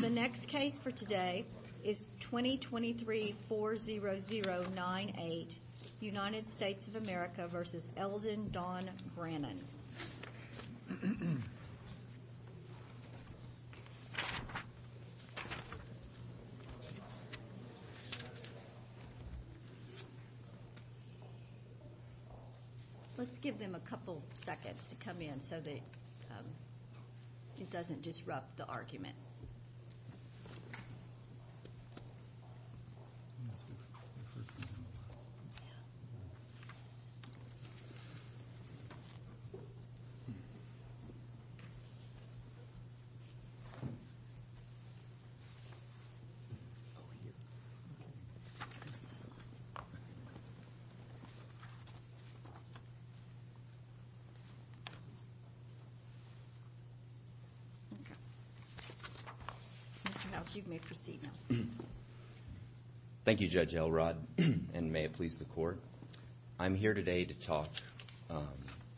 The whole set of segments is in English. The next case for today is 2023-40098 United States of America v. Eldon Don Brannan Let's give them a couple seconds to come in so that it doesn't disrupt the argument. Mr. House, you may proceed now. Thank you, Judge Elrod, and may it please the Court. I'm here today to talk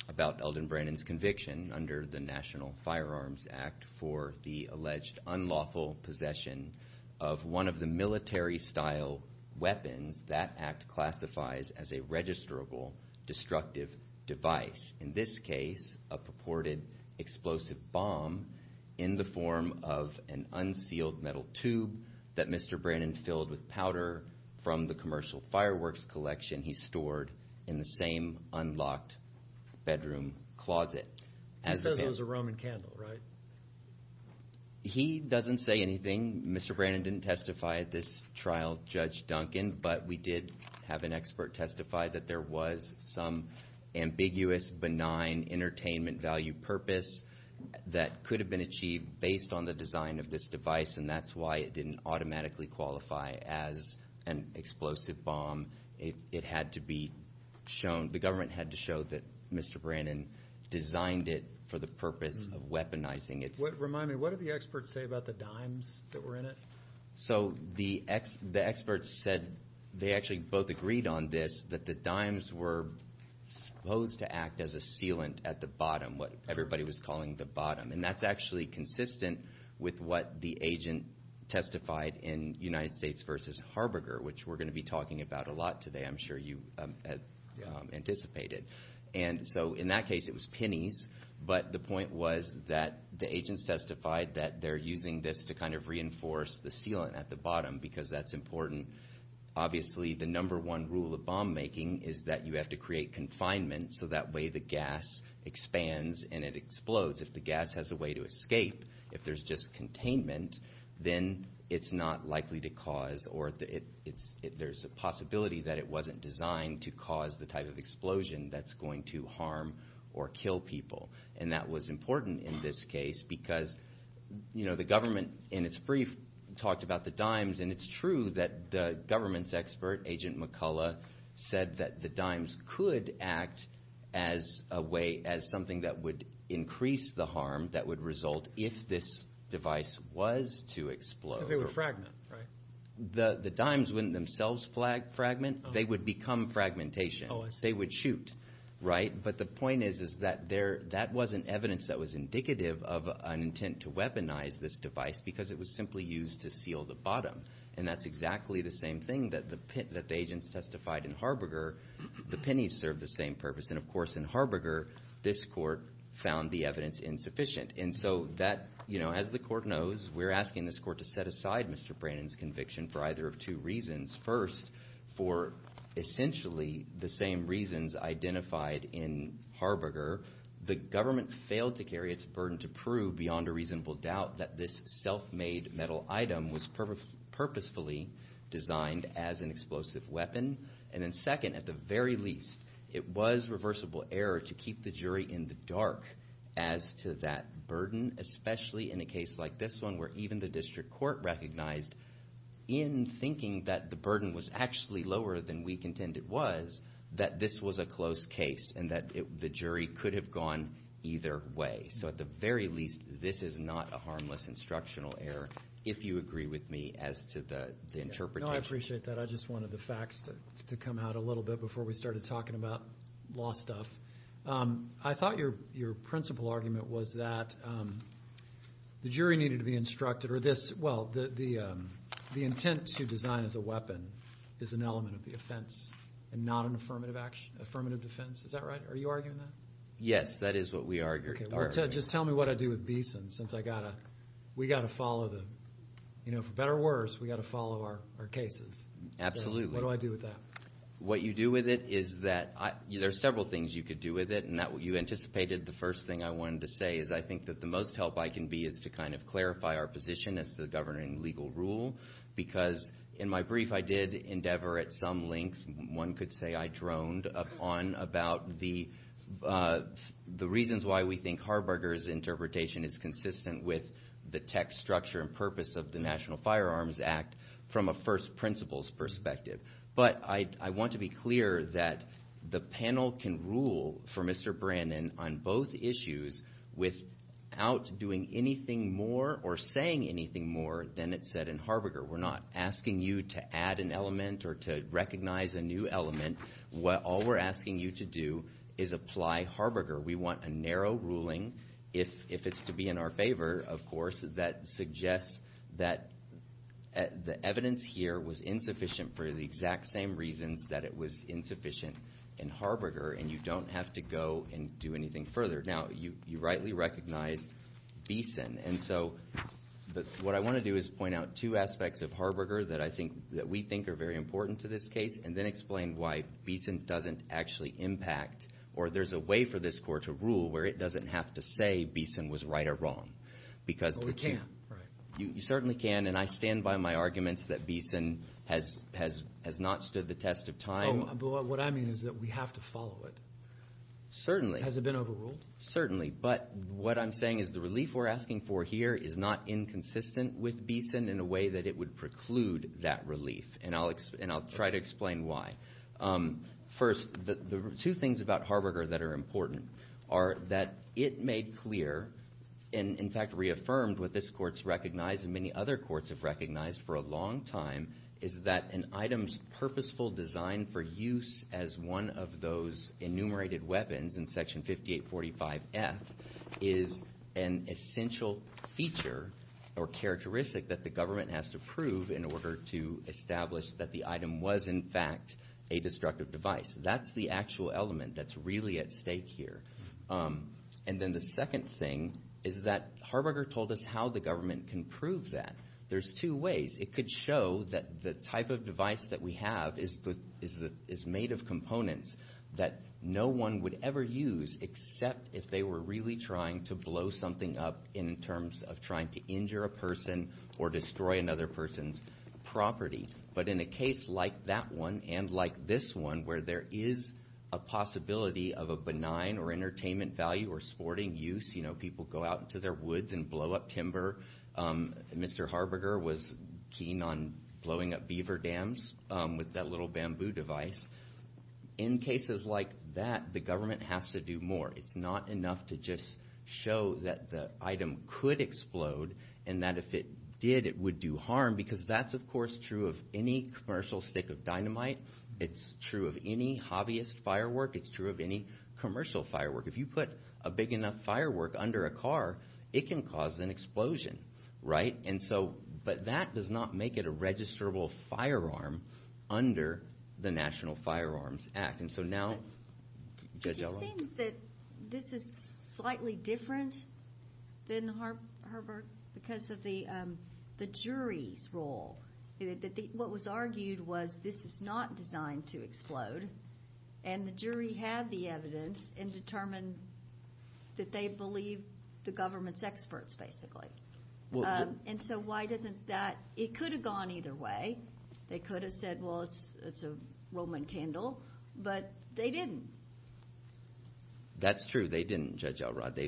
about Eldon Brannan's conviction under the National Firearms Act for the alleged unlawful possession of one of the military-style weapons that Act classifies as a registrable destructive device, in this case a purported explosive bomb in the form of an unsealed metal tube that Mr. Brannan filled with powder from the commercial fireworks collection he stored in the same unlocked bedroom closet. He says it was a Roman candle, right? He doesn't say anything. Mr. Brannan didn't testify at this trial, Judge Duncan, but we did have an expert testify that there was some ambiguous, benign entertainment value purpose that could have been achieved based on the design of this device, and that's why it didn't automatically qualify as an explosive. It had to be shown, the government had to show that Mr. Brannan designed it for the purpose of weaponizing it. Remind me, what did the experts say about the dimes that were in it? So the experts said, they actually both agreed on this, that the dimes were supposed to act as a sealant at the bottom, what everybody was calling the bottom, and that's actually consistent with what the agent testified in United States v. Harberger, which we're going to be talking about a lot today, I'm sure you anticipated. And so in that case it was pennies, but the point was that the agents testified that they're using this to kind of reinforce the sealant at the bottom, because that's important. Obviously the number one rule of bomb making is that you have to create confinement so that way the gas expands and it explodes. If the gas has a way to escape, if there's just containment, then it's not likely to explode. There's a possibility that it wasn't designed to cause the type of explosion that's going to harm or kill people, and that was important in this case because the government in its brief talked about the dimes, and it's true that the government's expert, Agent McCullough, said that the dimes could act as a way, as something that would increase the harm that would result if this device was to explode. Because they would fragment, right? The dimes wouldn't themselves fragment, they would become fragmentation. They would shoot, right? But the point is that that wasn't evidence that was indicative of an intent to weaponize this device because it was simply used to seal the bottom. And that's exactly the same thing that the agents testified in Harberger. The pennies served the same purpose, and of course in Harberger this court found the evidence insufficient. And so that, you know, as the court knows, we're asking this court to set aside Mr. Brannon's conviction for either of two reasons. First, for essentially the same reasons identified in Harberger, the government failed to carry its burden to prove beyond a reasonable doubt that this self-made metal item was purposefully designed as an explosive weapon. And then second, at the very least, it was reversible error to keep the jury in the dark as to that burden, especially in a case like this one where even the district court recognized in thinking that the burden was actually lower than we contend it was, that this was a close case and that the jury could have gone either way. So at the very least, this is not a harmless instructional error, if you agree with me as to the interpretation. No, I appreciate that. I just wanted the facts to come out a little bit before we started talking about law stuff. I thought your principal argument was that the jury needed to be instructed, or this, well, the intent to design as a weapon is an element of the offense and not an affirmative action, affirmative defense. Is that right? Are you arguing that? Yes, that is what we argued. Okay, just tell me what I do with Beeson, since I got to, we got to follow the, you know, for better or worse, we got to follow our cases. Absolutely. What do I do with that? What you do with it is that there are several things you could do with it, and you anticipated the first thing I wanted to say is I think that the most help I can be is to kind of clarify our position as to the governing legal rule, because in my brief, I did endeavor at some length, one could say I droned upon about the reasons why we think Harberger's interpretation is consistent with the tech structure and purpose of the National Firearms Act from a first principles perspective. But I want to be clear that the panel can rule for Mr. Brannon on both issues without doing anything more or saying anything more than it said in Harberger. We're not asking you to add an element or to recognize a new element. All we're asking you to do is apply Harberger. We want a narrow ruling, if it's to be in our favor, of course, that suggests that the same reasons that it was insufficient in Harberger, and you don't have to go and do anything further. Now, you rightly recognize Beeson. And so what I want to do is point out two aspects of Harberger that I think that we think are very important to this case and then explain why Beeson doesn't actually impact or there's a way for this court to rule where it doesn't have to say Beeson was right or wrong. Oh, it can. Right. You certainly can. And I stand by my arguments that Beeson has not stood the test of time. But what I mean is that we have to follow it. Certainly. Has it been overruled? Certainly. But what I'm saying is the relief we're asking for here is not inconsistent with Beeson in a way that it would preclude that relief. And I'll try to explain why. First, the two things about Harberger that are important are that it made clear and, in fact, reaffirmed what this court's recognized and many other courts have recognized for a long time is that an item's purposeful design for use as one of those enumerated weapons in Section 5845F is an essential feature or characteristic that the government has to prove in order to establish that the item was, in fact, a destructive device. That's the actual element that's really at stake here. And then the second thing is that Harberger told us how the government can prove that. There's two ways. It could show that the type of device that we have is made of components that no one would ever use except if they were really trying to blow something up in terms of trying to injure a person or destroy another person's property. But in a case like that one and like this one where there is a possibility of a benign or entertainment value or sporting use, you know, people go out into their woods and blow up timber. Mr. Harberger was keen on blowing up beaver dams with that little bamboo device. In cases like that, the government has to do more. It's not enough to just show that the item could explode and that if it did, it would do harm because that's, of course, true of any commercial stick of dynamite. It's true of any hobbyist firework. It's true of any commercial firework. If you put a big enough firework under a car, it can cause an explosion, right? And so, but that does not make it a registrable firearm under the National Firearms Act. And so now, Judge Elow? It just seems that this is slightly different than Harberger because of the jury's role. What was argued was this is not designed to explode. And the jury had the evidence and determined that they believe the government's experts, basically. And so why doesn't that, it could have gone either way. They could have said, well, it's a Roman candle. But they didn't. That's true. They didn't, Judge Elrod.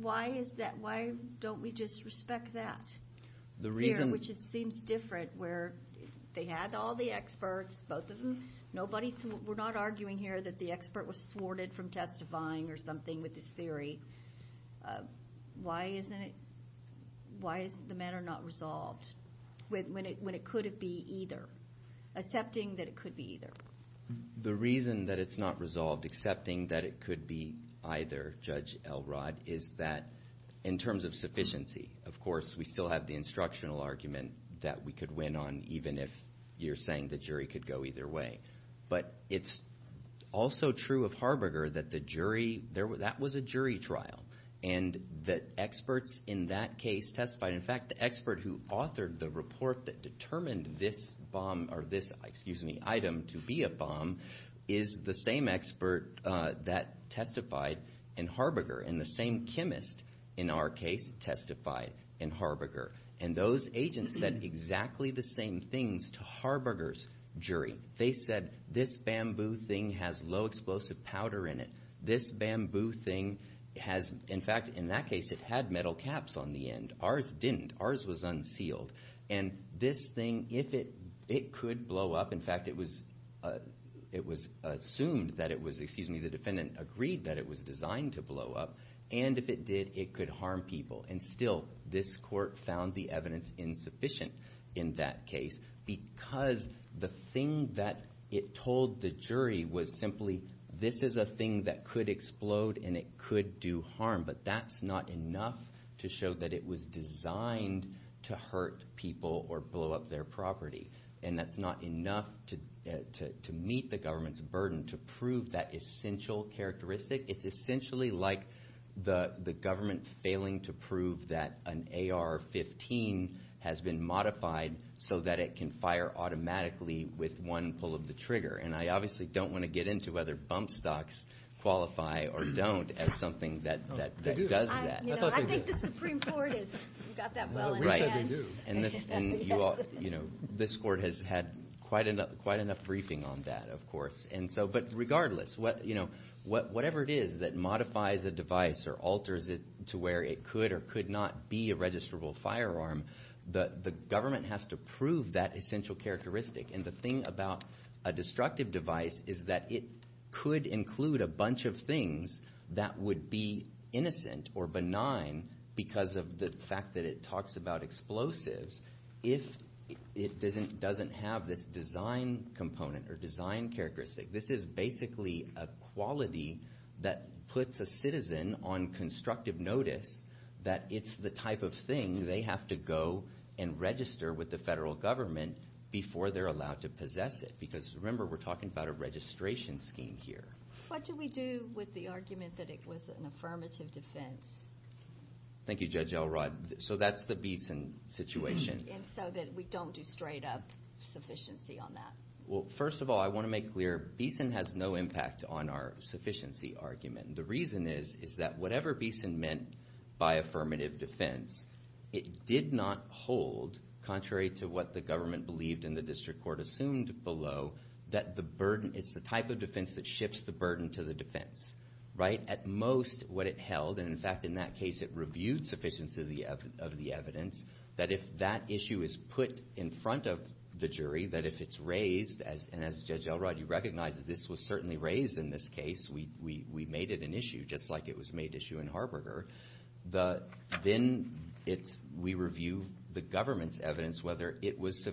Why is that? Why don't we just respect that? The reason... Which seems different where they had all the experts, both of them. Nobody, we're not arguing here that the expert was thwarted from testifying or something with this theory. Why isn't it, why is the matter not resolved when it could have been either? Accepting that it could be either. The reason that it's not resolved, accepting that it could be either, Judge Elrod, is that in terms of sufficiency. Of course, we still have the instructional argument that we could win on even if you're saying the jury could go either way. But it's also true of Harberger that the jury, that was a jury trial. And that experts in that case testified. In fact, the expert who authored the report that determined this bomb, or this item to be a bomb, is the same expert that testified in Harberger. And the same chemist, in our case, testified in Harberger. And those agents said exactly the same things to Harberger's jury. They said, this bamboo thing has low explosive powder in it. This bamboo thing has, in fact, in that case it had metal caps on the end. Ours didn't. Ours was unsealed. And this thing, if it could blow up, in fact, it was assumed that it was, excuse me, the And if it did, it could harm people. And still, this court found the evidence insufficient in that case because the thing that it told the jury was simply, this is a thing that could explode and it could do harm. But that's not enough to show that it was designed to hurt people or blow up their property. And that's not enough to meet the government's burden to prove that essential characteristic. It's essentially like the government failing to prove that an AR-15 has been modified so that it can fire automatically with one pull of the trigger. And I obviously don't want to get into whether bump stocks qualify or don't as something that does that. You know, I think the Supreme Court has got that well in hand. And this court has had quite enough briefing on that, of course. But regardless, whatever it is that modifies a device or alters it to where it could or could not be a registrable firearm, the government has to prove that essential characteristic. And the thing about a destructive device is that it could include a bunch of things that would be innocent or benign because of the fact that it talks about explosives. If it doesn't have this design component or design characteristic, this is basically a quality that puts a citizen on constructive notice that it's the type of thing they have to go and register with the federal government before they're allowed to possess it. Because remember, we're talking about a registration scheme here. What do we do with the argument that it was an affirmative defense? Thank you, Judge Elrod. So that's the Beeson situation. And so that we don't do straight up sufficiency on that? Well, first of all, I want to make clear, Beeson has no impact on our sufficiency argument. The reason is, is that whatever Beeson meant by affirmative defense, it did not hold, contrary to what the government believed and the district court assumed below, that the burden, it's the type of defense that shifts the burden to the defense, right? At most, what it held, and in fact, in that case, it reviewed sufficiency of the evidence, that if that issue is put in front of the jury, that if it's raised, and as Judge Elrod, you recognize that this was certainly raised in this case, we made it an issue, just like it was made issue in Harberger, then we review the government's evidence, whether it was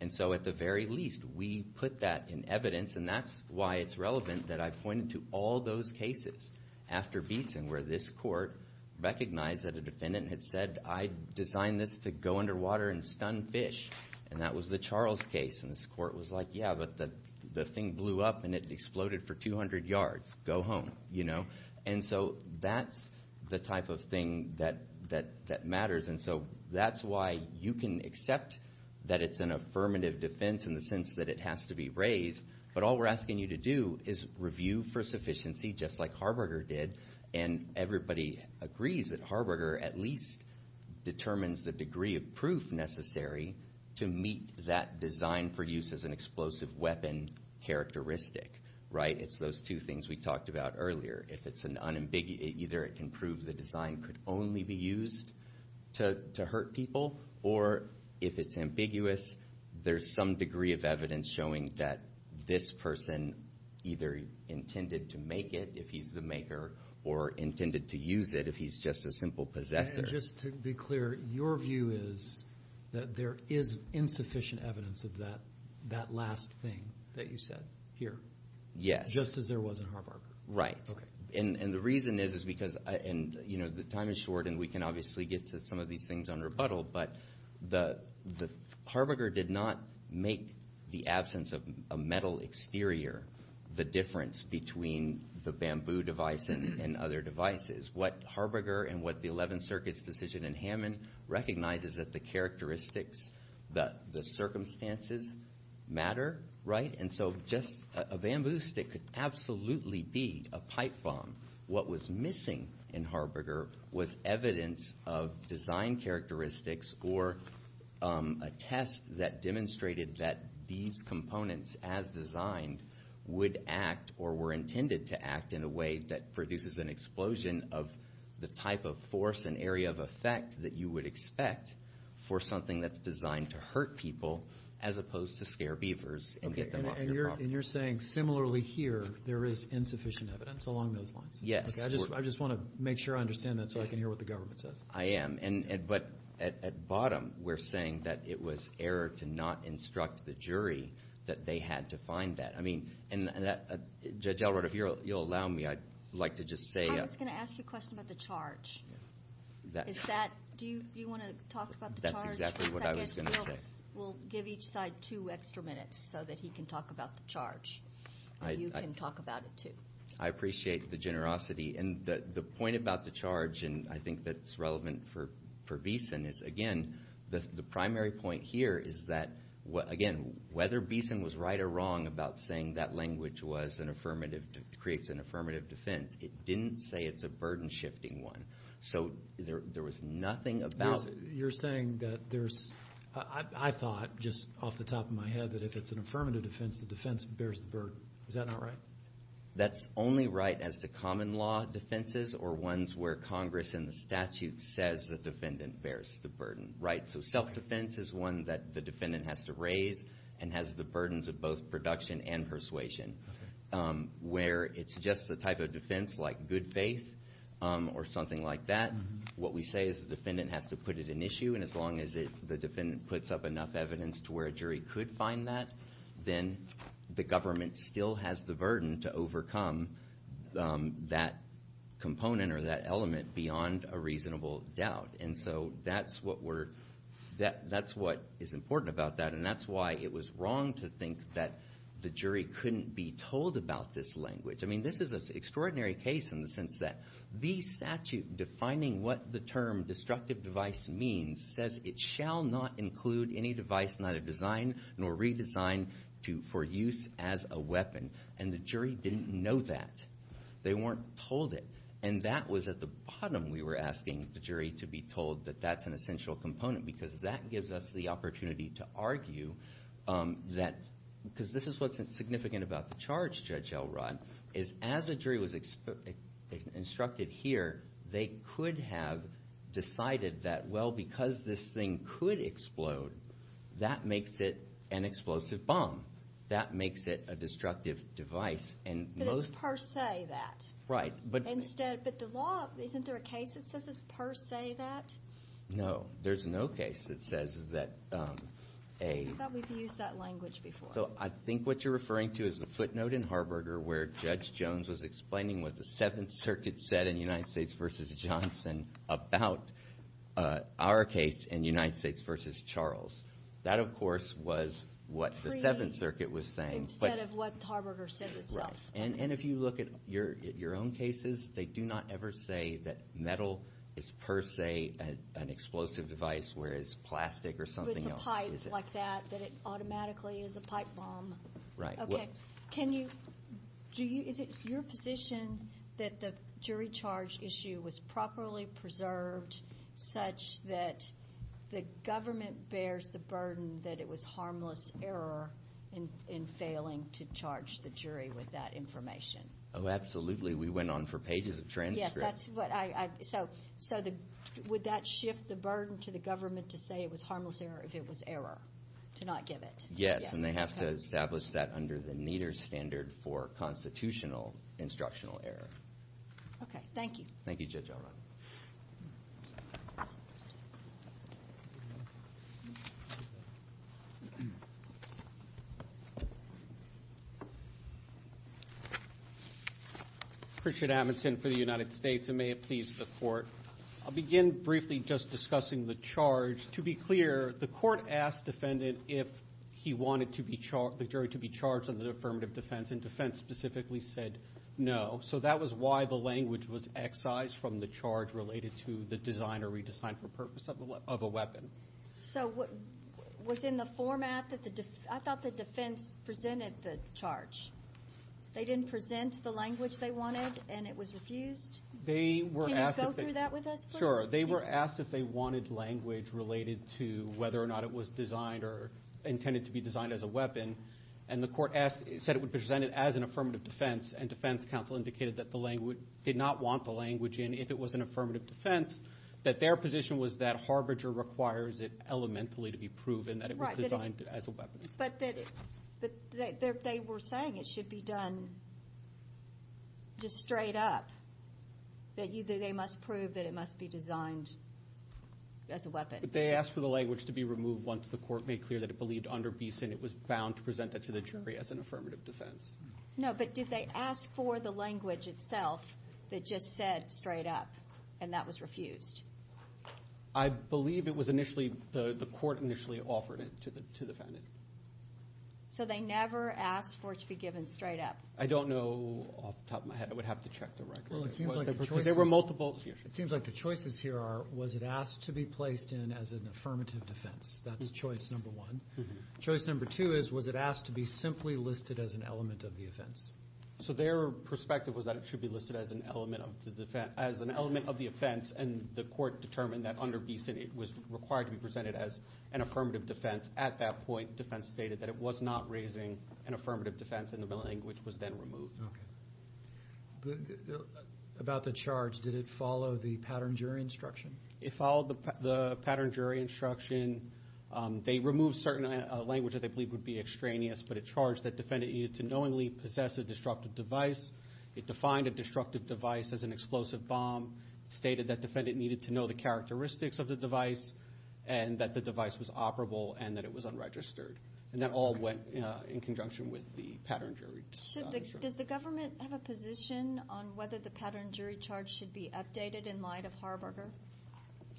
And so at the very least, we put that in evidence. And that's why it's relevant that I pointed to all those cases after Beeson, where this court recognized that a defendant had said, I designed this to go underwater and stun fish. And that was the Charles case. And this court was like, yeah, but the thing blew up and it exploded for 200 yards. Go home, you know? And so that's the type of thing that matters. And so that's why you can accept that it's an affirmative defense in the sense that it has to be raised. But all we're asking you to do is review for sufficiency, just like Harberger did. And everybody agrees that Harberger at least determines the degree of proof necessary to meet that design for use as an explosive weapon characteristic, right? It's those two things we talked about earlier. If it's an unambiguous, either it can prove the design could only be used to hurt people, or if it's ambiguous, there's some degree of evidence showing that this person either intended to make it, if he's the maker, or intended to use it if he's just a simple possessor. Just to be clear, your view is that there is insufficient evidence of that last thing that you said here? Yes. Just as there was in Harberger? Right. And the reason is because, and the time is short and we can obviously get to some of these things on rebuttal, but Harberger did not make the absence of a metal exterior the difference between the bamboo device and other devices. What Harberger and what the 11th Circuit's decision in Hammond recognizes is that the characteristics, the circumstances matter, right? So just a bamboo stick could absolutely be a pipe bomb. What was missing in Harberger was evidence of design characteristics or a test that demonstrated that these components as designed would act or were intended to act in a way that produces an explosion of the type of force and area of effect that you would expect for something that's designed to hurt people as opposed to scare beavers and get them off. And you're saying similarly here, there is insufficient evidence along those lines? Yes. I just want to make sure I understand that so I can hear what the government says. I am. And but at bottom, we're saying that it was error to not instruct the jury that they had to find that. I mean, and Judge Elrod, if you'll allow me, I'd like to just say. I was going to ask you a question about the charge. Is that, do you want to talk about the charge? That's exactly what I was going to say. We'll give each side two extra minutes so that he can talk about the charge. And you can talk about it too. I appreciate the generosity. And the point about the charge, and I think that's relevant for Beeson is, again, the primary point here is that, again, whether Beeson was right or wrong about saying that language was an affirmative, creates an affirmative defense, it didn't say it's a burden shifting one. So there was nothing about it. You're saying that there's, I thought just off the top of my head that if it's an affirmative defense, the defense bears the burden. Is that not right? That's only right as to common law defenses or ones where Congress in the statute says the defendant bears the burden, right? So self-defense is one that the defendant has to raise and has the burdens of both production and persuasion. Where it's just the type of defense like good faith or something like that. What we say is the defendant has to put it in issue. And as long as the defendant puts up enough evidence to where a jury could find that, then the government still has the burden to overcome that component or that element beyond a reasonable doubt. And so that's what is important about that. And that's why it was wrong to think that the jury couldn't be told about this language. This is an extraordinary case in the sense that the statute defining what the term destructive device means says it shall not include any device neither designed nor redesigned for use as a weapon. And the jury didn't know that. They weren't told it. And that was at the bottom we were asking the jury to be told that that's an essential component. Because that gives us the opportunity to argue that, because this is what's significant about the charge, Judge Elrod, is as a jury was instructed here, they could have decided that, well, because this thing could explode, that makes it an explosive bomb. That makes it a destructive device. And most... But it's per se that. Right. But... Instead... But the law, isn't there a case that says it's per se that? No, there's no case that says that a... I thought we've used that language before. I think what you're referring to is the footnote in Harberger where Judge Jones was explaining what the Seventh Circuit said in United States v. Johnson about our case in United States v. Charles. That, of course, was what the Seventh Circuit was saying. Instead of what Harberger says itself. Right. And if you look at your own cases, they do not ever say that metal is per se an explosive device, whereas plastic or something else... Like that, that it automatically is a pipe bomb. Right. Okay. Can you... Is it your position that the jury charge issue was properly preserved such that the government bears the burden that it was harmless error in failing to charge the jury with that information? Oh, absolutely. We went on for pages of transcripts. Yes, that's what I... So, would that shift the burden to the government to say it was harmless error if it was error? To not give it. Yes, and they have to establish that under the Nieder standard for constitutional instructional error. Okay. Thank you. Thank you, Judge O'Rourke. Richard Amundson for the United States, and may it please the Court. I'll begin briefly just discussing the charge. To be clear, the Court asked defendant if he wanted the jury to be charged under the affirmative defense, and defense specifically said no. So, that was why the language was excised from the charge related to the design or redesign for purpose of a weapon. So, was in the format that the... I thought the defense presented the charge. They didn't present the language they wanted, and it was refused? They were asked... Can you go through that with us, please? Sure. They were asked if they wanted language related to whether or not it was designed or intended to be designed as a weapon, and the Court said it would present it as an affirmative defense, and defense counsel indicated that the language... Did not want the language in if it was an affirmative defense, that their position was that harbinger requires it elementally to be proven that it was designed as a weapon. But they were saying it should be done just straight up, that they must prove that it must be designed as a weapon. But they asked for the language to be removed once the Court made clear that it believed under Beeson it was bound to present that to the jury as an affirmative defense. No, but did they ask for the language itself that just said straight up, and that was refused? I believe it was initially... The Court initially offered it to the defendant. So, they never asked for it to be given straight up? I don't know off the top of my head. I would have to check the record. Well, it seems like the choice was... There were multiple... It seems like the choices here are, was it asked to be placed in as an affirmative defense? That's choice number one. Choice number two is, was it asked to be simply listed as an element of the offense? So, their perspective was that it should be listed as an element of the offense, and the Court determined that under Beeson it was required to be presented as an affirmative defense. At that point, defense stated that it was not raising an affirmative defense, and the language was then removed. Okay. About the charge, did it follow the Pattern Jury Instruction? It followed the Pattern Jury Instruction. They removed certain language that they believed would be extraneous, but it charged that defendant needed to knowingly possess a destructive device. It defined a destructive device as an explosive bomb. It stated that defendant needed to know the characteristics of the device, and that the device was operable, and that it was unregistered. And that all went in conjunction with the Pattern Jury Instruction. Does the government have a position on whether the Pattern Jury Charge should be updated in light of Harbinger?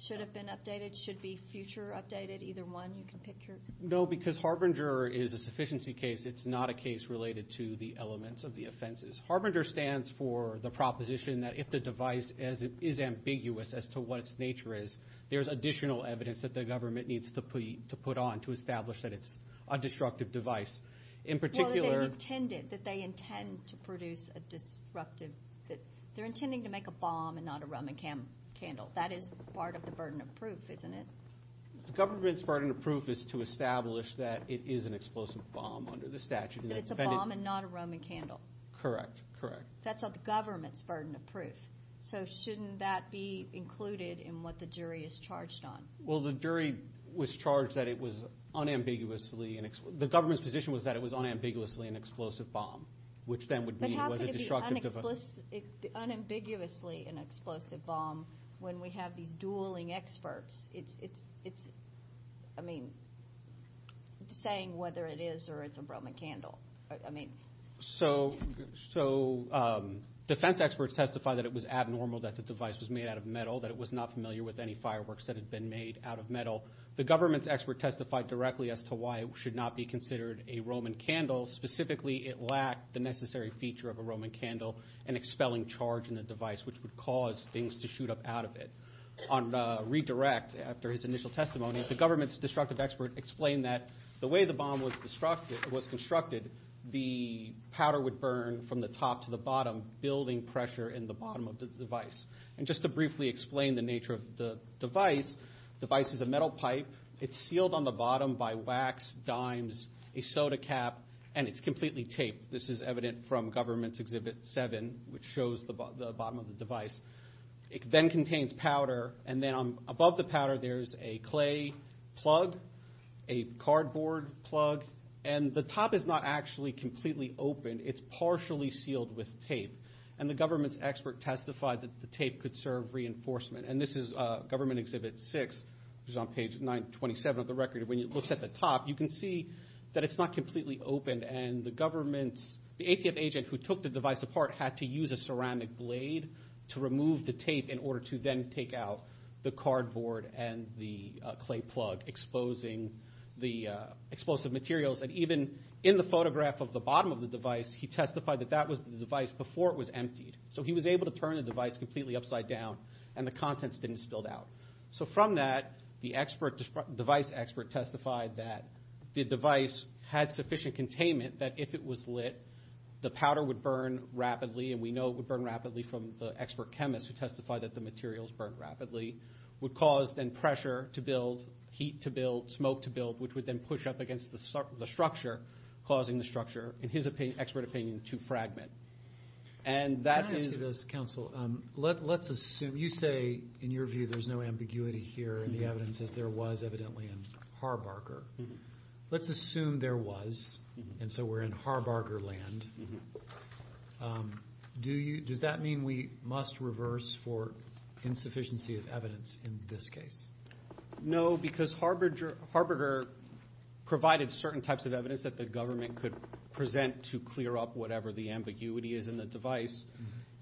Should it have been updated? Should it be future updated? Either one, you can pick your... No, because Harbinger is a sufficiency case. It's not a case related to the elements of the offenses. Harbinger stands for the proposition that if the device is ambiguous as to what its nature is, there's additional evidence that the government needs to put on to establish that it's a destructive device. In particular... Well, that they intended to produce a disruptive... They're intending to make a bomb and not a Roman candle. That is part of the burden of proof, isn't it? The government's burden of proof is to establish that it is an explosive bomb under the statute. That it's a bomb and not a Roman candle. Correct, correct. That's the government's burden of proof. So shouldn't that be included in what the jury is charged on? Well, the jury was charged that it was unambiguously... The government's position was that it was unambiguously an explosive bomb, which then would mean it was a destructive device. But how can it be unambiguously an explosive bomb when we have these dueling experts? Saying whether it is or it's a Roman candle. So defense experts testify that it was abnormal that the device was made out of metal, that it was not familiar with any fireworks that had been made out of metal. The government's expert testified directly as to why it should not be considered a Roman candle. Specifically, it lacked the necessary feature of a Roman candle, an expelling charge in the device, which would cause things to shoot up out of it. On redirect, after his initial testimony, the government's destructive expert explained that the way the bomb was constructed, the powder would burn from the top to the bottom, building pressure in the bottom of the device. And just to briefly explain the nature of the device, the device is a metal pipe. It's sealed on the bottom by wax, dimes, a soda cap, and it's completely taped. This is evident from government's Exhibit 7, which shows the bottom of the device. It then contains powder. And then above the powder, there's a clay plug, a cardboard plug. And the top is not actually completely open. It's partially sealed with tape. And the government's expert testified that the tape could serve reinforcement. And this is government Exhibit 6, which is on page 927 of the record. When it looks at the top, you can see that it's not completely open. And the government's, the ATF agent who took the device apart had to use a ceramic blade to remove the tape in order to then take out the cardboard and the clay plug, exposing the explosive materials. And even in the photograph of the bottom of the device, he testified that that was the device before it was emptied. So he was able to turn the device completely upside down. And the contents didn't spill out. So from that, the device expert testified that the device had sufficient containment that if it was lit, the powder would burn rapidly. And we know it would burn rapidly from the expert chemist who testified that the materials burn rapidly. Would cause then pressure to build, heat to build, smoke to build, which would then push up against the structure, causing the structure, in his expert opinion, to fragment. And that is... Can I ask you this, counsel? Let's assume, you say in your view there's no ambiguity here and the evidence is there was evidently in Harbarger. Let's assume there was, and so we're in Harbarger land. Does that mean we must reverse for insufficiency of evidence in this case? No, because Harbarger provided certain types of evidence that the government could present to clear up whatever the ambiguity is in the device.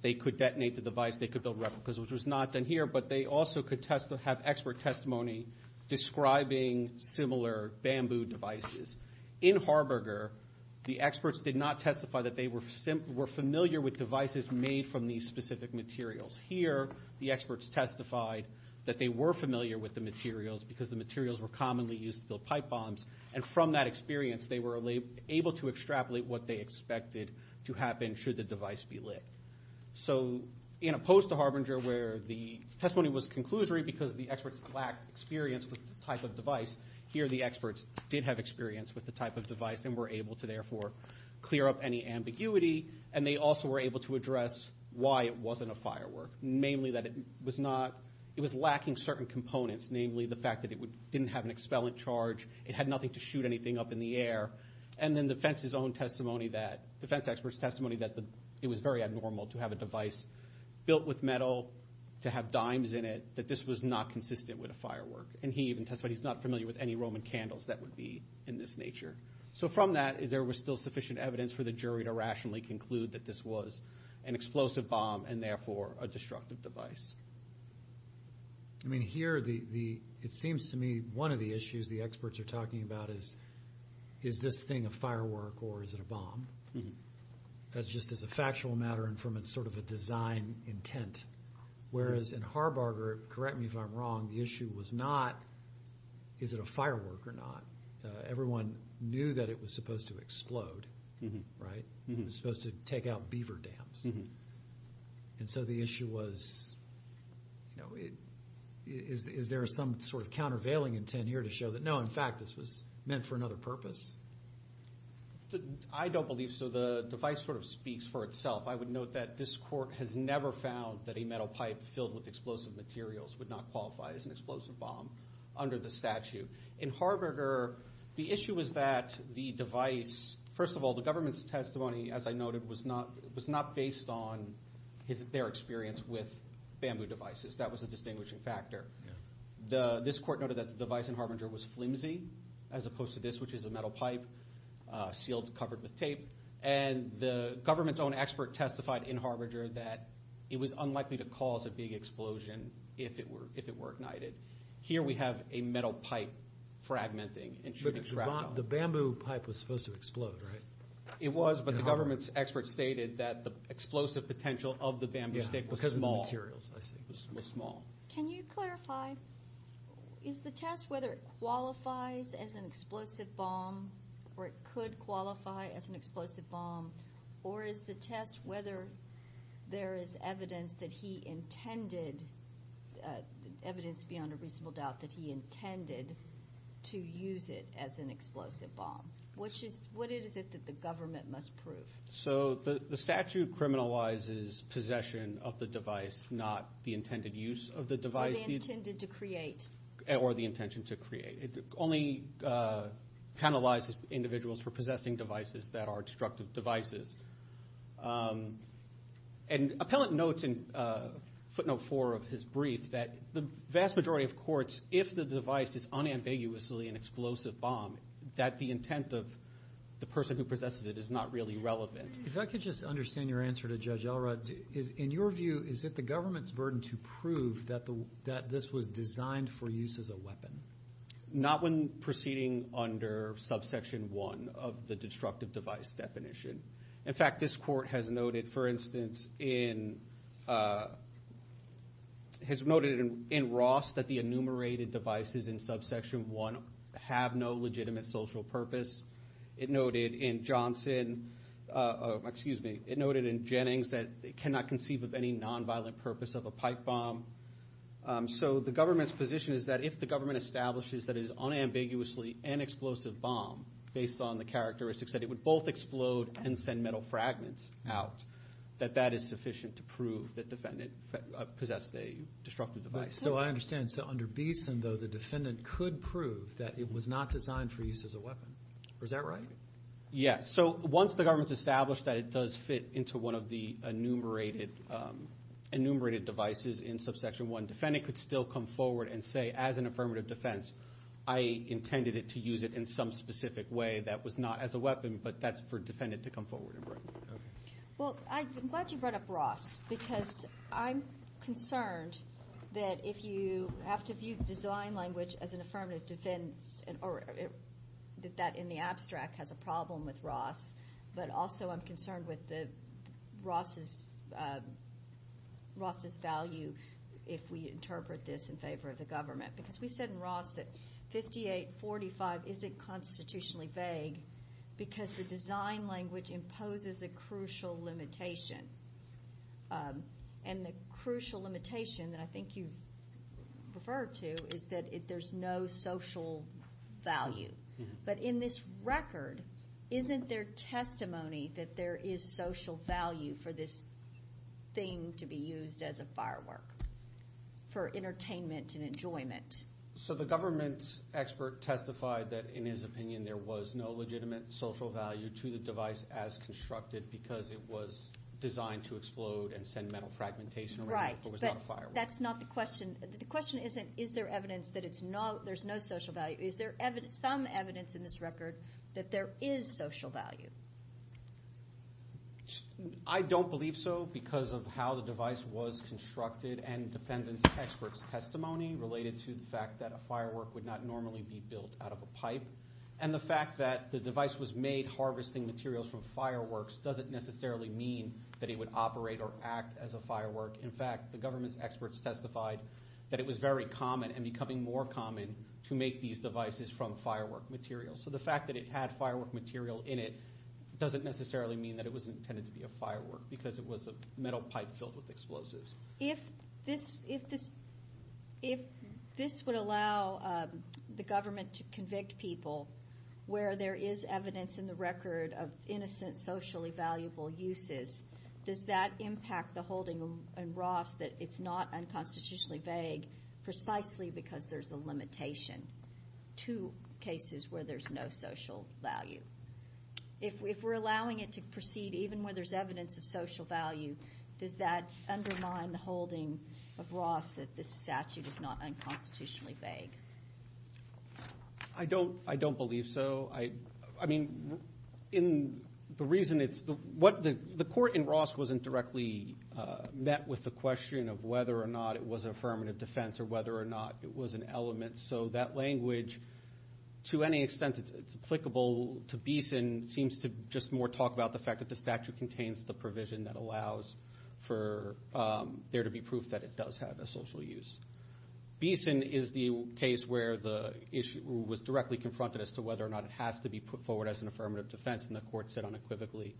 They could detonate the device. They could build replicas, which was not done here. But they also could have expert testimony describing similar bamboo devices. In Harbarger, the experts did not testify that they were familiar with devices made from these specific materials. Here, the experts testified that they were familiar with the materials because the materials were commonly used to build pipe bombs. And from that experience, they were able to extrapolate what they expected to happen should the device be lit. So in opposed to Harbarger, where the testimony was conclusory because the experts lacked experience with the type of device, here the experts did have experience with the type of device and were able to therefore clear up any ambiguity. And they also were able to address why it wasn't a firework, namely that it was not... It was lacking certain components, namely the fact that it didn't have an expellent charge. It had nothing to shoot anything up in the air. And then the defense's own testimony that... Defense experts' testimony that it was very abnormal to have a device built with metal to have dimes in it, that this was not consistent with a firework. And he even testified he's not familiar with any Roman candles that would be in this nature. So from that, there was still sufficient evidence for the jury to rationally conclude that this was an explosive bomb and therefore a destructive device. I mean, here, it seems to me one of the issues the experts are talking about is, is this thing a firework or is it a bomb? That's just as a factual matter and from a sort of a design intent. Whereas in Harbarger, correct me if I'm wrong, the issue was not, is it a firework or not? Everyone knew that it was supposed to explode, right? It was supposed to take out beaver dams. And so the issue was, you know, is there some sort of countervailing intent here to show that, no, in fact, this was meant for another purpose? I don't believe so. The device sort of speaks for itself. I would note that this court has never found that a metal pipe filled with explosive materials would not qualify as an explosive bomb under the statute. In Harbarger, the issue was that the device... First of all, the government's testimony, as I noted, was not based on their experience with bamboo devices. That was a distinguishing factor. This court noted that the device in Harbarger was flimsy, as opposed to this, which is a metal pipe, sealed, covered with tape. And the government's own expert testified in Harbarger that it was unlikely to cause a big explosion if it were ignited. Here we have a metal pipe fragmenting and shooting crack. The bamboo pipe was supposed to explode, right? It was, but the government's expert stated that the explosive potential of the bamboo stick was small. Because of the materials, I see. It was small. Can you clarify, is the test whether it qualifies as an explosive bomb, or it could qualify as an explosive bomb, or is the test whether there is evidence that he intended, evidence beyond a reasonable doubt, that he intended to use it as an explosive bomb? Which is, what is it that the government must prove? So the statute criminalizes possession of the device, not the intended use of the device. Or the intended to create. Or the intention to create. It only penalizes individuals for possessing devices that are destructive devices. And Appellant notes in footnote four of his brief that the vast majority of courts, if the device is unambiguously an explosive bomb, that the intent of the person who possesses it is not really relevant. If I could just understand your answer to Judge Elrod. Is, in your view, is it the government's burden to prove that this was designed for use as a weapon? Not when proceeding under subsection one of the destructive device definition. In fact, this court has noted, for instance, has noted in Ross that the enumerated devices in subsection one have no legitimate social purpose. It noted in Johnson, excuse me, it noted in Jennings that they cannot conceive of any nonviolent purpose of a pipe bomb. So the government's position is that if the government establishes that it is unambiguously an explosive bomb based on the characteristics that it would both explode and send metal fragments out, that that is sufficient to prove that defendant possessed a destructive device. So I understand. So under Beeson, though, the defendant could prove that it was not designed for use as a weapon. Is that right? Yes. So once the government's established that it does fit into one of the enumerated, enumerated devices in subsection one, defendant could still come forward and say as an affirmative defense, I intended it to use it in some specific way that was not as a weapon, but that's for defendant to come forward. Well, I'm glad you brought up Ross because I'm concerned that if you have to view the design language as an affirmative defense that that in the abstract has a problem with Ross, but also I'm concerned with the Ross's value if we interpret this in favor of the government. Because we said in Ross that 5845 isn't constitutionally vague because the design language imposes a crucial limitation. And the crucial limitation that I think you referred to is that there's no social value. But in this record, isn't there testimony that there is social value for this thing to be used as a firework for entertainment and enjoyment? So the government's expert testified that in his opinion, to the device as constructed because it was designed to explode and send metal fragmentation around. Right, but that's not the question. The question isn't, is there evidence that there's no social value? Is there some evidence in this record that there is social value? I don't believe so because of how the device was constructed and defendant's expert's testimony related to the fact that a firework would not normally be built out of a pipe. And the fact that the device was made harvesting materials from fireworks doesn't necessarily mean that it would operate or act as a firework. In fact, the government's experts testified that it was very common and becoming more common to make these devices from firework material. So the fact that it had firework material in it doesn't necessarily mean that it was intended to be a firework because it was a metal pipe filled with explosives. If this would allow the government to convict people where there is evidence in the record of innocent socially valuable uses, does that impact the holding in Ross that it's not unconstitutionally vague precisely because there's a limitation to cases where there's no social value? If we're allowing it to proceed even where there's evidence of social value, does that undermine the holding of Ross that this statute is not unconstitutionally vague? I don't believe so. I mean, the reason it's... The court in Ross wasn't directly met with the question of whether or not it was an affirmative defense or whether or not it was an element. So that language, to any extent it's applicable to Beeson, seems to just more talk about the fact that the statute contains the provision that allows for there to be proof that it does have a social use. Beeson is the case where the issue was directly confronted as to whether or not it has to be put forward as an affirmative defense. And the court said unequivocally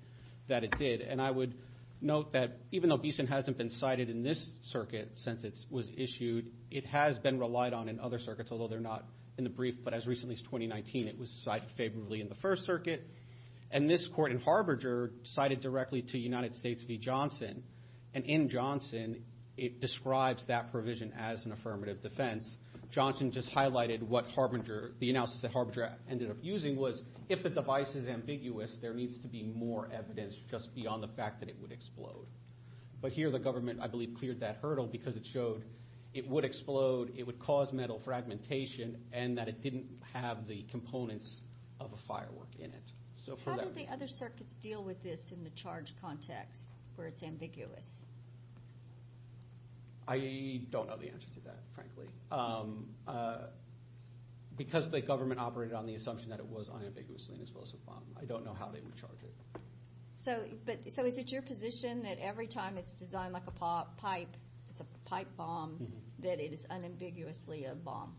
that it did. And I would note that even though Beeson hasn't been cited in this circuit since it was issued, it has been relied on in other circuits, although they're not in the brief. But as recently as 2019, it was cited favorably in the first circuit. And this court in Harbinger cited directly to United States v. Johnson. And in Johnson, it describes that provision as an affirmative defense. Johnson just highlighted what Harbinger, the analysis that Harbinger ended up using was if the device is ambiguous, there needs to be more evidence just beyond the fact that it would explode. But here the government, I believe, cleared that hurdle because it showed it would explode, it would cause metal fragmentation, and that it didn't have the components of a firework in it. So for that- How do the other circuits deal with this in the charge context where it's ambiguous? I don't know the answer to that, frankly. Because the government operated on the assumption that it was unambiguously an explosive bomb. I don't know how they would charge it. So is it your position that every time it's designed like a pipe, it's a pipe bomb, that it is unambiguously a bomb?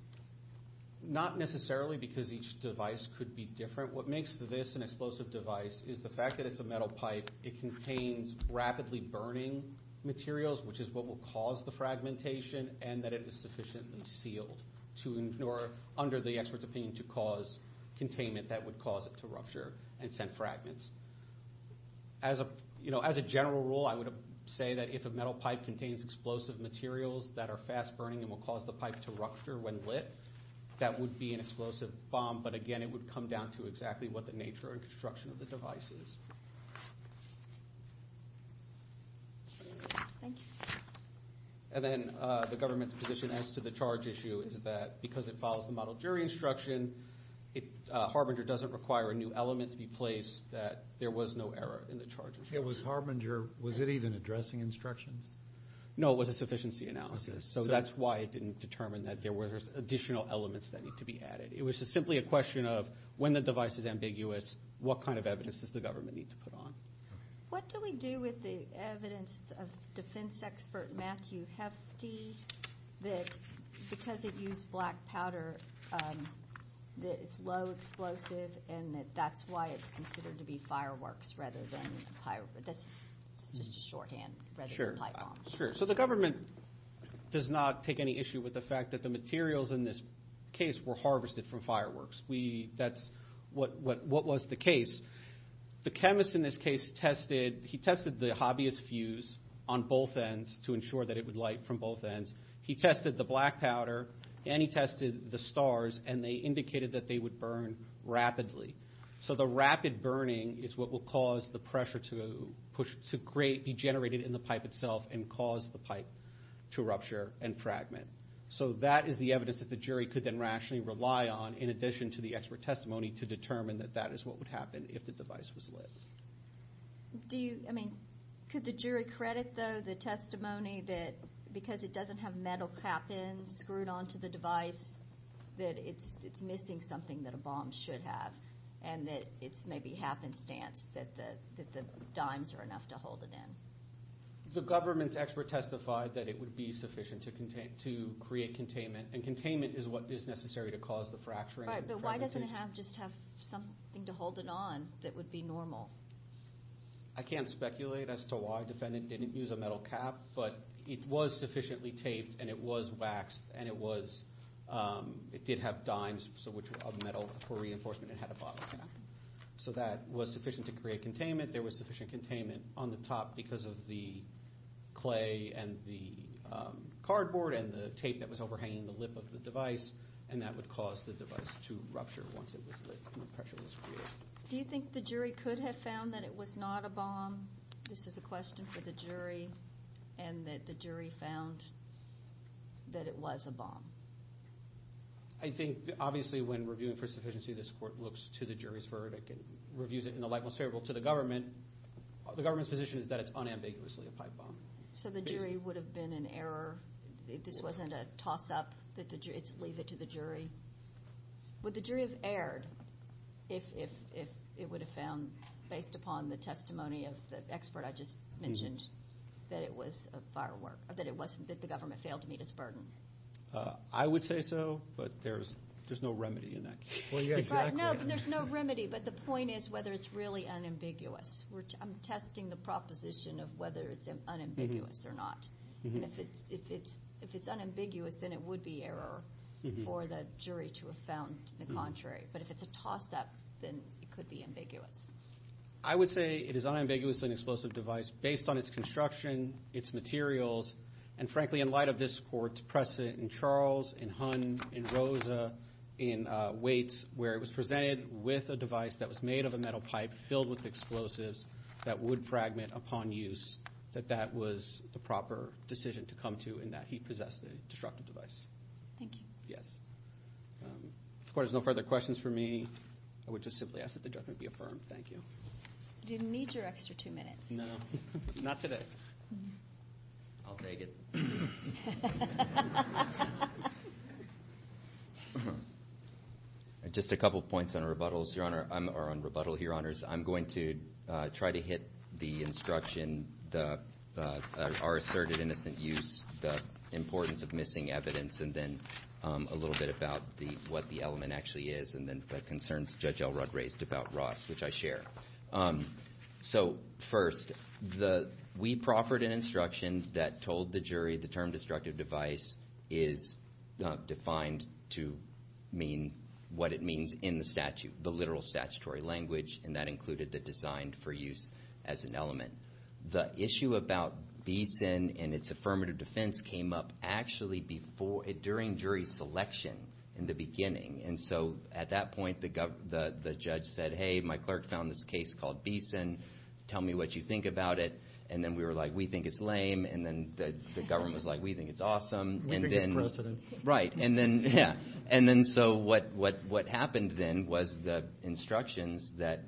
Not necessarily because each device could be different. What makes this an explosive device is the fact that it's a metal pipe. It contains rapidly burning materials, which is what will cause the fragmentation, and that it is sufficiently sealed to ignore, under the expert's opinion, to cause containment that would cause it to rupture and send fragments. As a general rule, I would say that if a metal pipe contains explosive materials that are fast burning and will cause the pipe to rupture when lit, that would be an explosive bomb. But again, it would come down to exactly what the nature and construction of the device is. Thank you. And then the government's position as to the charge issue is that because it follows the model jury instruction, Harbinger doesn't require a new element to be placed, that there was no error in the charges. Yeah, was Harbinger, was it even addressing instructions? No, it was a sufficiency analysis. So that's why it didn't determine that there were additional elements that need to be added. It was simply a question of when the device is ambiguous, what kind of evidence does the government need to put on? What do we do with the evidence of defense expert Matthew Hefty that because it used black powder, that it's low explosive and that that's why it's considered to be fireworks rather than a pipe bomb. That's just a shorthand. Sure, so the government does not take any issue with the fact that the materials in this case were harvested from fireworks. That's what was the case. The chemist in this case tested, he tested the hobbyist fuse on both ends to ensure that it would light from both ends. He tested the black powder and he tested the stars and they indicated that they would burn rapidly. So the rapid burning is what will cause the pressure to push, to create, be generated in the pipe itself and cause the pipe to rupture and fragment. So that is the evidence that the jury could then rationally rely on in addition to the expert testimony to determine that that is what would happen if the device was lit. Do you, I mean, could the jury credit though the testimony that because it doesn't have metal clappings screwed onto the device that it's missing something that a bomb should have and that it's maybe happenstance that the dimes are enough to hold it in. The government's expert testified that it would be sufficient to create containment and containment is what is necessary to cause the fracturing. Right, but why doesn't it have just have something to hold it on that would be normal? I can't speculate as to why defendant didn't use a metal cap but it was sufficiently taped and it was waxed and it was, it did have dimes so which were of metal for reinforcement and had a bottom cap. So that was sufficient to create containment. There was sufficient containment on the top because of the clay and the cardboard and the tape that was overhanging the lip of the device and that would cause the device to rupture once it was lit and the pressure was created. Do you think the jury could have found that it was not a bomb? This is a question for the jury and that the jury found that it was a bomb. I think obviously when reviewing for sufficiency this court looks to the jury's verdict and reviews it in the light most favorable to the government. The government's position is that it's unambiguously a pipe bomb. So the jury would have been in error, this wasn't a toss up that the jury, leave it to the jury. Would the jury have erred if it would have found based upon the testimony of the expert I just mentioned that it was a firework or that it wasn't, that the government failed to meet its burden? I would say so but there's no remedy in that case. Well yeah, exactly. No, there's no remedy but the point is whether it's really unambiguous. I'm testing the proposition of whether it's unambiguous or not. And if it's unambiguous then it would be error for the jury to have found the contrary. But if it's a toss up then it could be ambiguous. I would say it is unambiguously an explosive device based on its construction, its materials, and frankly in light of this court's precedent in Charles, in Hunn, in Rosa, in Waits where it was presented with a device that was made of a metal pipe filled with explosives that would fragment upon use that that was the proper decision to come to in that he possessed a destructive device. Thank you. Yes. If the court has no further questions for me I would just simply ask that the judgment be affirmed. Thank you. Do you need your extra two minutes? No, not today. I'll take it. Just a couple points on rebuttals, Your Honor, or on rebuttal, Your Honors. I'm going to try to hit the instruction, our asserted innocent use, the importance of missing evidence, and then a little bit about what the element actually is and then the concerns Judge Elrod raised about Ross, which I share. So first, we proffered an instruction that told the jury the term destructive device is defined to mean what it means in the statute, the literal statutory language, and that included the designed for use as an element. The issue about Beeson and its affirmative defense came up actually before, during jury selection in the beginning. And so at that point, the judge said, hey, my clerk found this case called Beeson. Tell me what you think about it. And then we were like, we think it's lame. And then the government was like, we think it's awesome. We think it's precedent. Right. And then, yeah. And then so what happened then was the instructions that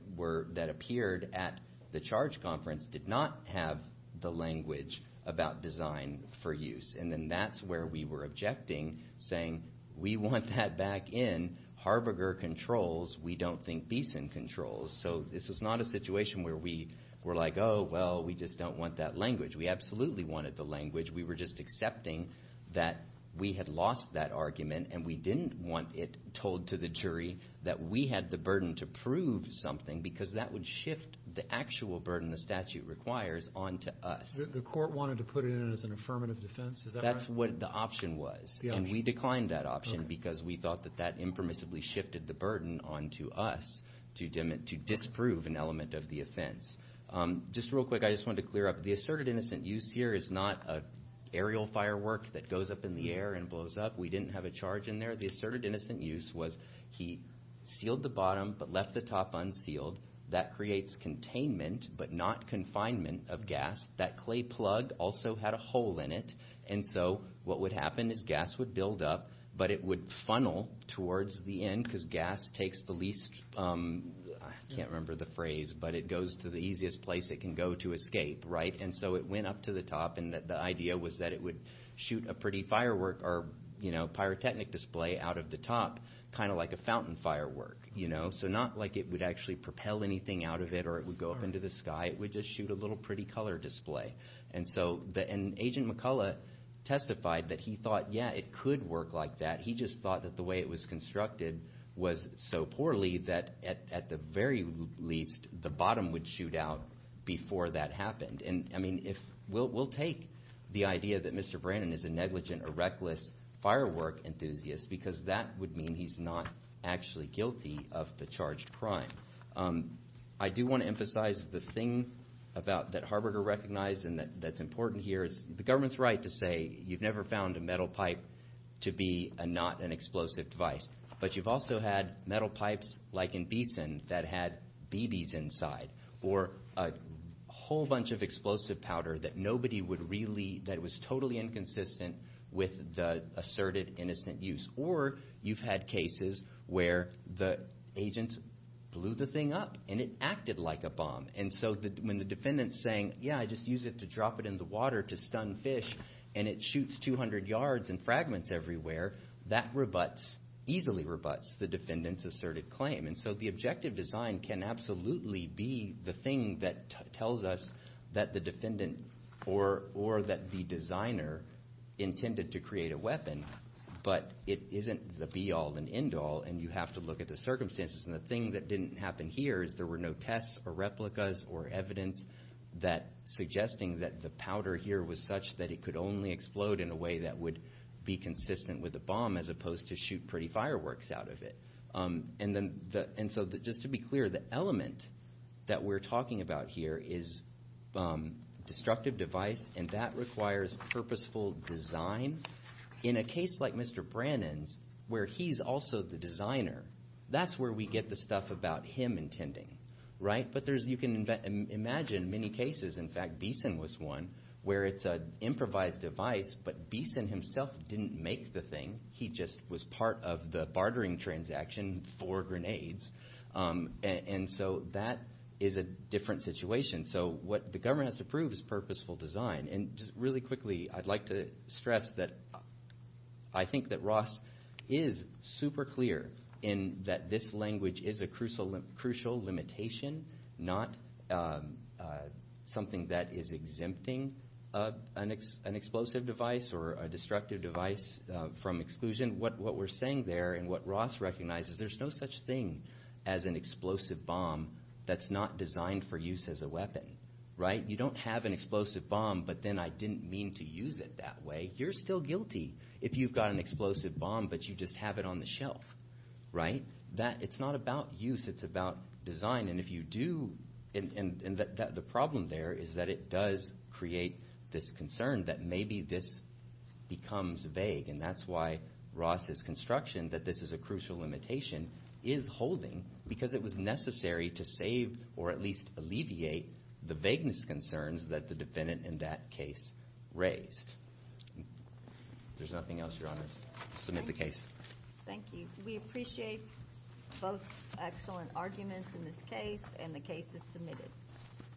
appeared at the charge conference did not have the language about design for use. And then that's where we were objecting, saying we want that back in. Harberger controls. We don't think Beeson controls. So this was not a situation where we were like, oh, well, we just don't want that language. We absolutely wanted the language. We were just accepting that we had lost that argument and we didn't want it told to the jury that we had the burden to prove something because that would shift the actual burden the statute requires onto us. The court wanted to put it in as an affirmative defense. Is that right? That's what the option was. And we declined that option because we thought that that impermissibly shifted the burden onto us to disprove an element of the offense. Just real quick, I just want to clear up the asserted innocent use here is not an aerial firework that goes up in the air and blows up. We didn't have a charge in there. The asserted innocent use was he sealed the bottom but left the top unsealed. That creates containment but not confinement of gas. That clay plug also had a hole in it. And so what would happen is gas would build up but it would funnel towards the end because gas takes the least... I can't remember the phrase but it goes to the easiest place it can go to escape, right? And so it went up to the top and the idea was that it would shoot a pretty firework or pyrotechnic display out of the top kind of like a fountain firework, you know? So not like it would actually propel anything out of it or it would go up into the sky. It would just shoot a little pretty color display. And Agent McCullough testified that he thought, yeah, it could work like that. He just thought that the way it was constructed was so poorly that at the very least the bottom would shoot out before that happened. And I mean, we'll take the idea that Mr. Brannan is a negligent or reckless firework enthusiast because that would mean he's not actually guilty of the charged crime. I do want to emphasize the thing that Harberger recognized and that's important here is the government's right to say you've never found a metal pipe to be not an explosive device. But you've also had metal pipes like in Beeson that had BBs inside or a whole bunch of explosive powder that nobody would really, that was totally inconsistent with the asserted innocent use. Or you've had cases where the agents blew the thing up and it acted like a bomb. And so when the defendant's saying, yeah, I just use it to drop it in the water to stun fish and it shoots 200 yards and fragments everywhere, that rebuts, easily rebuts the defendant's asserted claim. And so the objective design can absolutely be the thing that tells us that the defendant or that the designer intended to create a weapon, but it isn't the be all and end all. And you have to look at the circumstances. And the thing that didn't happen here is there were no tests or replicas or evidence that suggesting that the powder here was such that it could only explode in a way that would be consistent with a bomb as opposed to shoot pretty fireworks out of it. And so just to be clear, the element that we're talking about here is destructive device and that requires purposeful design. In a case like Mr. Brannon's, where he's also the designer, that's where we get the stuff about him intending, right? But there's, you can imagine many cases, in fact, Beeson was one where it's an improvised device, but Beeson himself didn't make the thing. He just was part of the bartering transaction for grenades. And so that is a different situation. So what the government has to prove is purposeful design. And just really quickly, I'd like to stress that I think that Ross is super clear in that this language is a crucial limitation, not something that is exempting an explosive device or a destructive device from exclusion. What we're saying there and what Ross recognizes, there's no such thing as an explosive bomb that's not designed for use as a weapon, right? You don't have an explosive bomb, but then I didn't mean to use it that way. You're still guilty if you've got an explosive bomb, but you just have it on the shelf, right? It's not about use, it's about design. If you do, the problem there is that it does create this concern that maybe this becomes vague. And that's why Ross's construction that this is a crucial limitation is holding because it was necessary to save or at least alleviate the vagueness concerns that the defendant in that case raised. There's nothing else, Your Honors. Submit the case. Thank you. We appreciate both excellent arguments in this case and the case is submitted.